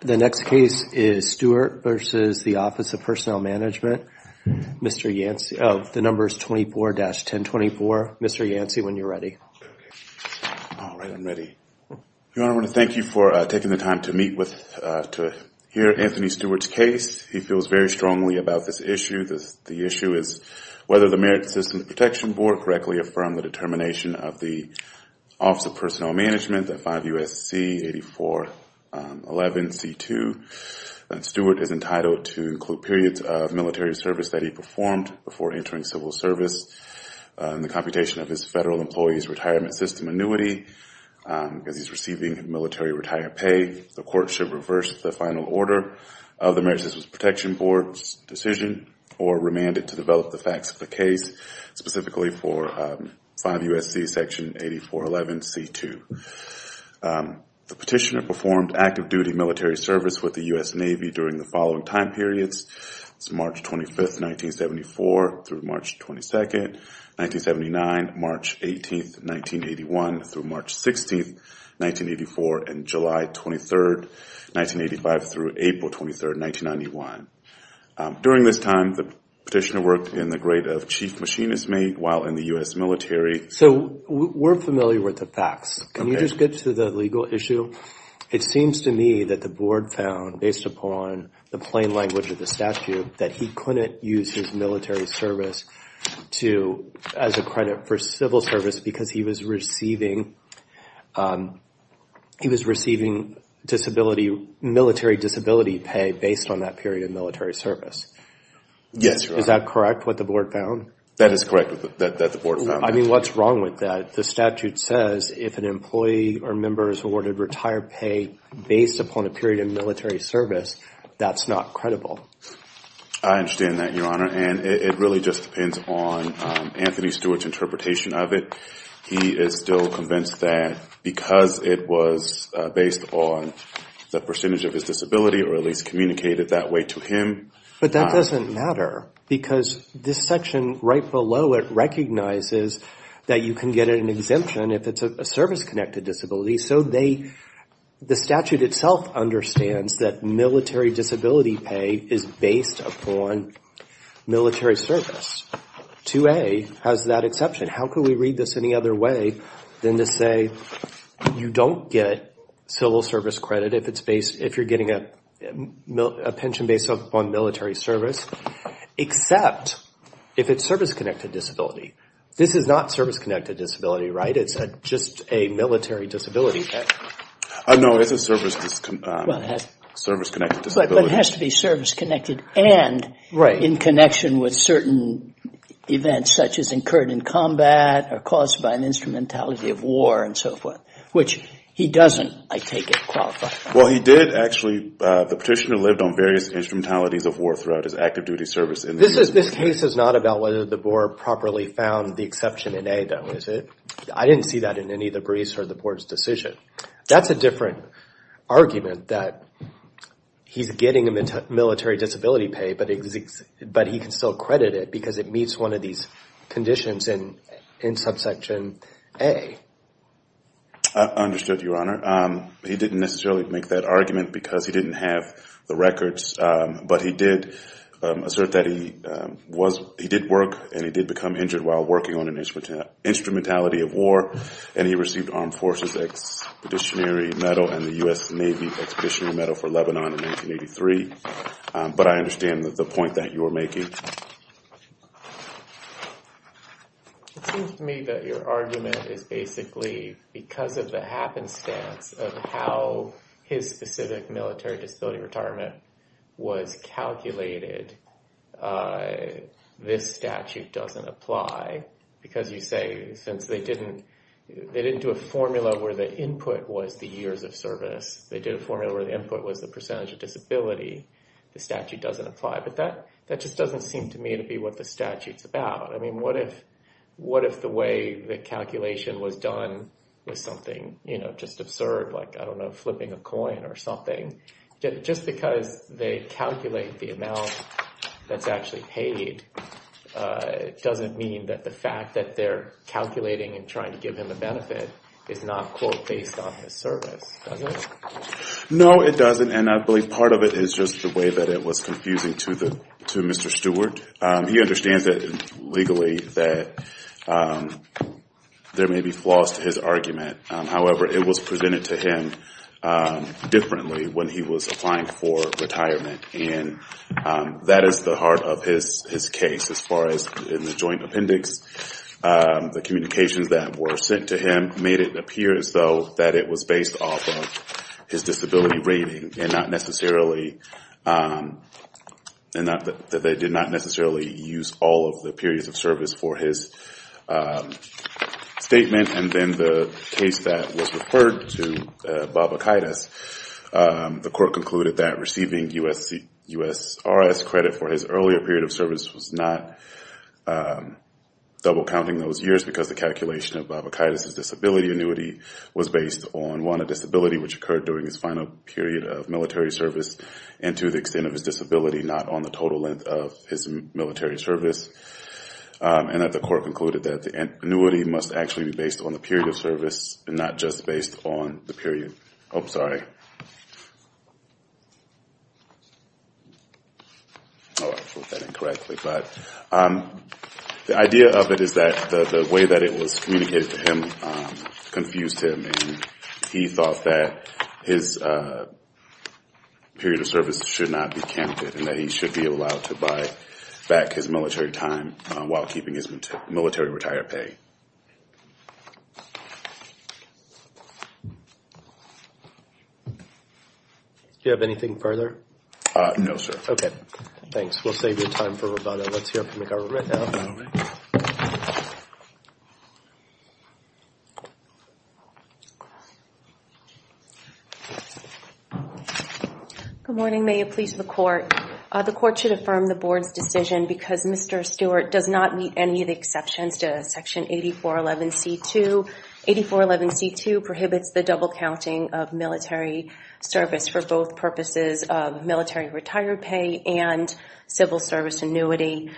The next case is Stewart versus the Office of Personnel Management Mr. Yancey, the number is 24-1024. Mr. Yancey when you're ready You want to thank you for taking the time to meet with to hear Anthony Stewart's case He feels very strongly about this issue. The issue is whether the Merit Systems Protection Board correctly affirmed the determination of the Office of Personnel Management at 5 U.S.C. 8411 C.2 Stewart is entitled to include periods of military service that he performed before entering civil service and the computation of his federal employees retirement system annuity Because he's receiving military retire pay the court should reverse the final order of the Merit Systems Protection Board's decision or remand it to develop the facts of the case specifically for 5 U.S.C. section 8411 C.2 The petitioner performed active-duty military service with the U.S. Navy during the following time periods It's March 25th, 1974 through March 22nd 1979 March 18th 1981 through March 16th 1984 and July 23rd 1985 through April 23rd 1991 During this time the petitioner worked in the grade of chief machinist mate while in the US military So we're familiar with the facts. Can you just get to the legal issue? It seems to me that the board found based upon the plain language of the statute that he couldn't use his military service to as a credit for civil service because he was receiving He was receiving disability military disability pay based on that period of military service Yes, is that correct what the board found? That is correct that the board. I mean what's wrong with that? The statute says if an employee or member is awarded retired pay based upon a period of military service That's not credible. I Understand that your honor and it really just depends on Anthony Stewart's interpretation of it. He is still convinced that because it was based on The percentage of his disability or at least communicated that way to him But that doesn't matter because this section right below it Recognizes that you can get an exemption if it's a service-connected disability. So they The statute itself understands that military disability pay is based upon Military service 2a has that exception. How could we read this any other way than to say? you don't get civil service credit if it's based if you're getting a pension based on military service Except if it's service-connected disability, this is not service-connected disability, right? It's just a military disability Oh, no, it's a service Well has service-connected But it has to be service-connected and right in connection with certain Events such as incurred in combat or caused by an instrumentality of war and so forth Which he doesn't I take it qualify. Well, he did actually The petitioner lived on various instrumentalities of war throughout his active-duty service in this is this case is not about whether the board Properly found the exception in a though is it I didn't see that in any of the briefs or the board's decision. That's a different argument that He's getting a military disability pay, but it exists, but he can still credit it because it meets one of these conditions in in subsection a Understood your honor. He didn't necessarily make that argument because he didn't have the records, but he did Assert that he was he did work and he did become injured while working on an instrument instrumentality of war and he received Armed Forces Expeditionary medal and the US Navy Expeditionary Medal for Lebanon in 1983, but I understand that the point that you were making Me that your argument is basically because of the happenstance of how his specific military disability retirement was calculated This statute doesn't apply Because you say since they didn't They didn't do a formula where the input was the years of service They did a formula where the input was the percentage of disability The statute doesn't apply but that that just doesn't seem to me to be what the statutes about I mean, what if what if the way the calculation was done was something, you know Just absurd like I don't know flipping a coin or something just because they calculate the amount That's actually paid It doesn't mean that the fact that they're calculating and trying to give him a benefit is not quote based on his service No, it doesn't and I believe part of it is just the way that it was confusing to the to mr. Stewart he understands that legally that There may be flaws to his argument, however, it was presented to him differently when he was applying for retirement and That is the heart of his his case as far as in the joint appendix The communications that were sent to him made it appear as though that it was based off of his disability rating and not necessarily And not that they did not necessarily use all of the periods of service for his Statement and then the case that was referred to baba-kaitis The court concluded that receiving USC US RS credit for his earlier period of service was not Double counting those years because the calculation of baba-kaitis his disability annuity was based on one a disability which occurred during his final Period of military service and to the extent of his disability not on the total length of his military service And that the court concluded that the annuity must actually be based on the period of service and not just based on the period I'm sorry Correctly, but The idea of it is that the way that it was communicated to him confused him and he thought that his Period of service should not be candidate and that he should be allowed to buy back his military time while keeping his military retire pay Do you have anything further? No, sir. Okay. Thanks. We'll save your time for about it. Let's hear from the government Good morning, may it please the court the court should affirm the board's decision because mr Stewart does not meet any of the exceptions to section 84 11 c 2 84 11 c 2 prohibits the double counting of military service for both purposes of military retired pay and civil service annuity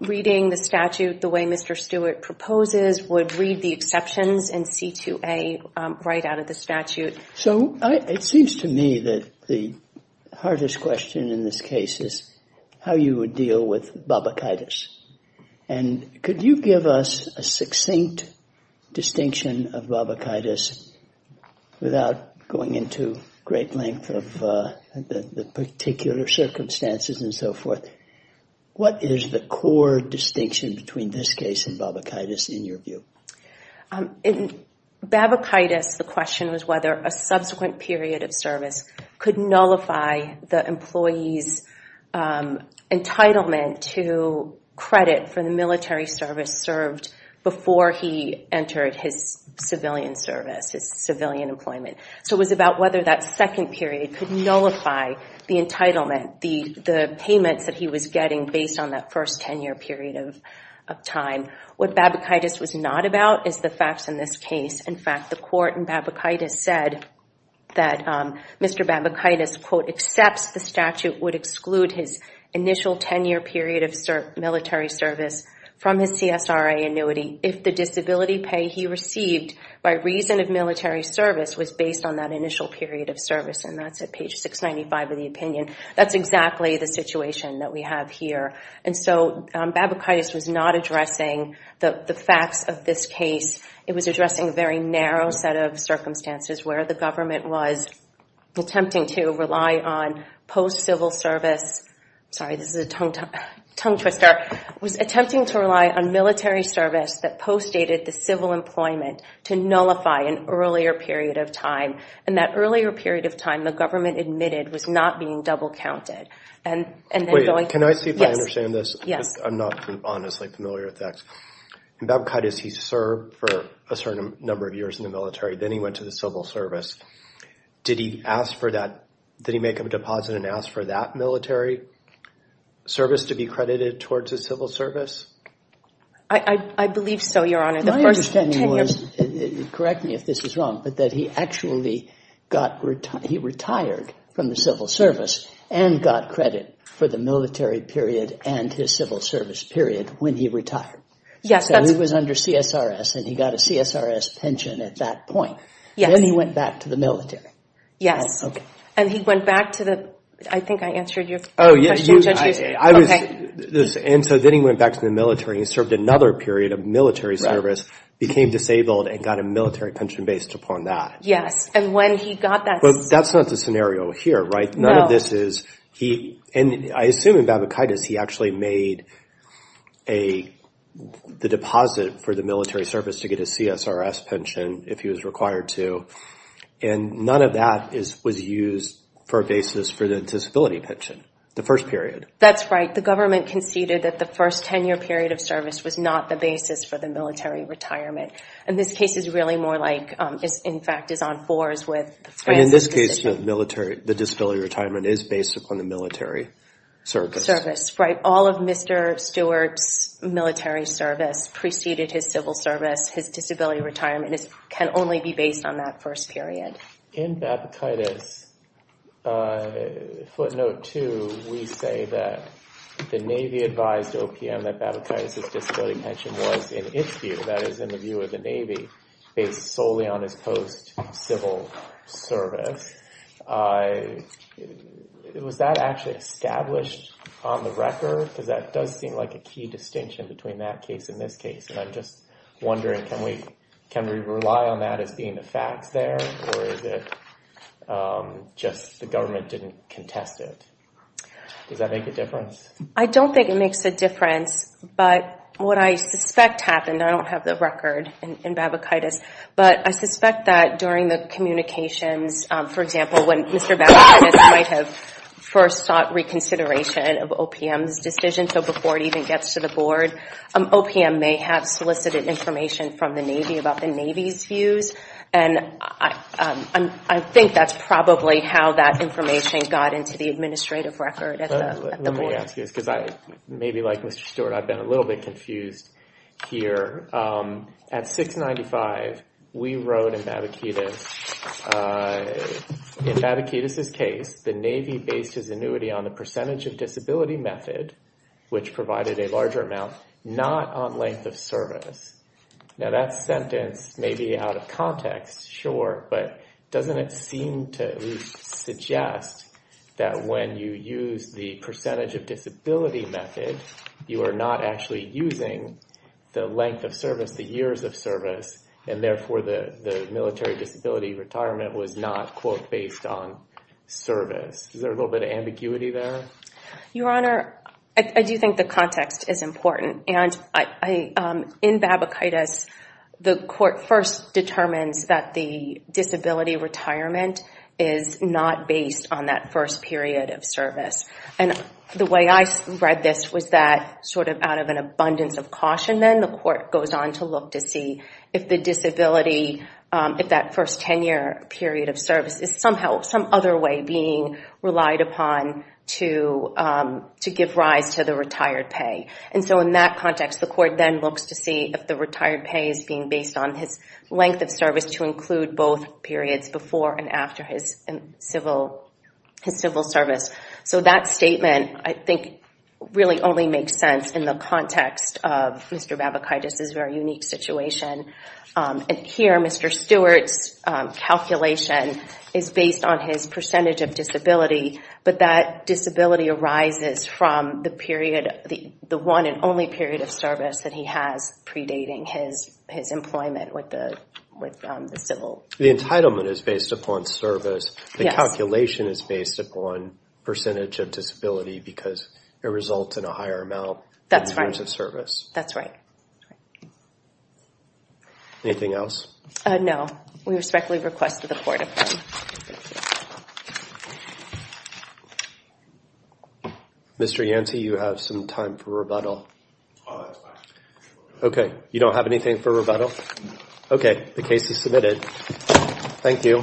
Reading the statute the way, mr Stewart proposes would read the exceptions and c2a right out of the statute so it seems to me that the hardest question in this case is how you would deal with baba-kaitis and Could you give us a succinct? Distinction of baba-kaitis Without going into great length of the particular circumstances and so forth What is the core distinction between this case and baba-kaitis in your view? in Baba-kaitis the question was whether a subsequent period of service could nullify the employees Entitlement to credit for the military service served before he entered his civilian service his civilian employment So it was about whether that second period could nullify the entitlement the the payments that he was getting based on that first Ten-year period of time what Baba-kaitis was not about is the facts in this case. In fact the court and Baba-kaitis said That Mr. Baba-kaitis quote accepts the statute would exclude his initial 10-year period of military service From his CSRA annuity if the disability pay he received by reason of military Service was based on that initial period of service and that's at page 695 of the opinion That's exactly the situation that we have here And so Baba-kaitis was not addressing the the facts of this case It was addressing a very narrow set of circumstances where the government was Attempting to rely on post civil service Sorry, this is a tongue-twister Was attempting to rely on military service that post dated the civil employment to nullify an earlier period of time And that earlier period of time the government admitted was not being double-counted and and they're going can I see if I understand this? Yes, I'm not honestly familiar with that Baba-kaitis he served for a certain number of years in the military, then he went to the civil service Did he ask for that? Did he make a deposit and ask for that military? Service to be credited towards a civil service. I believe so your honor the first Correct me if this is wrong But that he actually got He retired from the civil service and got credit for the military period and his civil service period when he retired Yes, it was under CSRS and he got a CSRS pension at that point. Yes, then he went back to the military Yes, okay, and he went back to the I think I answered you. Oh, yeah And so then he went back to the military he served another period of military service Became disabled and got a military pension based upon that. Yes, and when he got that, but that's not the scenario here, right? no, this is he and I assume in Baba-kaitis, he actually made a the deposit for the military service to get a CSRS pension if he was required to and None of that is was used for a basis for the disability pension the first period that's right The government conceded that the first ten-year period of service was not the basis for the military Retirement and this case is really more like is in fact is on fours with in this case The military the disability retirement is based upon the military Service right all of mr. Stewart's military service preceded his civil service his disability retirement is can only be based on that first period in Baba-kaitis Footnote 2 we say that the Navy advised OPM that Baba-kaitis' disability pension was in its view That is in the view of the Navy based solely on his post civil service I Was that actually established on the record because that does seem like a key distinction between that case in this case And I'm just wondering can we can we rely on that as being the facts there or is it? Just the government didn't contest it Does that make a difference? I don't think it makes a difference, but what I suspect happened I don't have the record in Baba-kaitis, but I suspect that during the Communications for example when mr. Baba-kaitis might have first sought reconsideration of OPM's decision So before it even gets to the board OPM may have solicited information from the Navy about the Navy's views and I Think that's probably how that information got into the administrative record Because I maybe like mr. Stewart. I've been a little bit confused Here at 695 we wrote in Baba-kaitis In Baba-kaitis his case the Navy based his annuity on the percentage of disability method Which provided a larger amount not on length of service Now that sentence may be out of context sure, but doesn't it seem to? Suggest that when you use the percentage of disability method you are not actually using The length of service the years of service and therefore the the military disability retirement was not quote based on Service is there a little bit of ambiguity there your honor. I do think the context is important and I in Baba-kaitis the court first determines that the disability retirement is not based on that first period of service and The way I read this was that sort of out of an abundance of caution Then the court goes on to look to see if the disability if that first 10-year period of service is somehow some other way being relied upon to to give rise to the retired pay and so in that context the court then looks to see if the retired pay is being based on His length of service to include both periods before and after his and civil His civil service so that statement I think Really only makes sense in the context of mr. Baba-kaitis is very unique situation And here mr. Stewart's Calculation is based on his percentage of disability but that disability arises from the period the the one and only period of service that he has Predating his his employment with the with the civil the entitlement is based upon service Calculation is based upon percentage of disability because it results in a higher amount. That's right as a service. That's right Anything else? No, we respectfully request to the court Mr. Yancy you have some time for rebuttal Okay, you don't have anything for rebuttal Okay, the case is submitted Thank you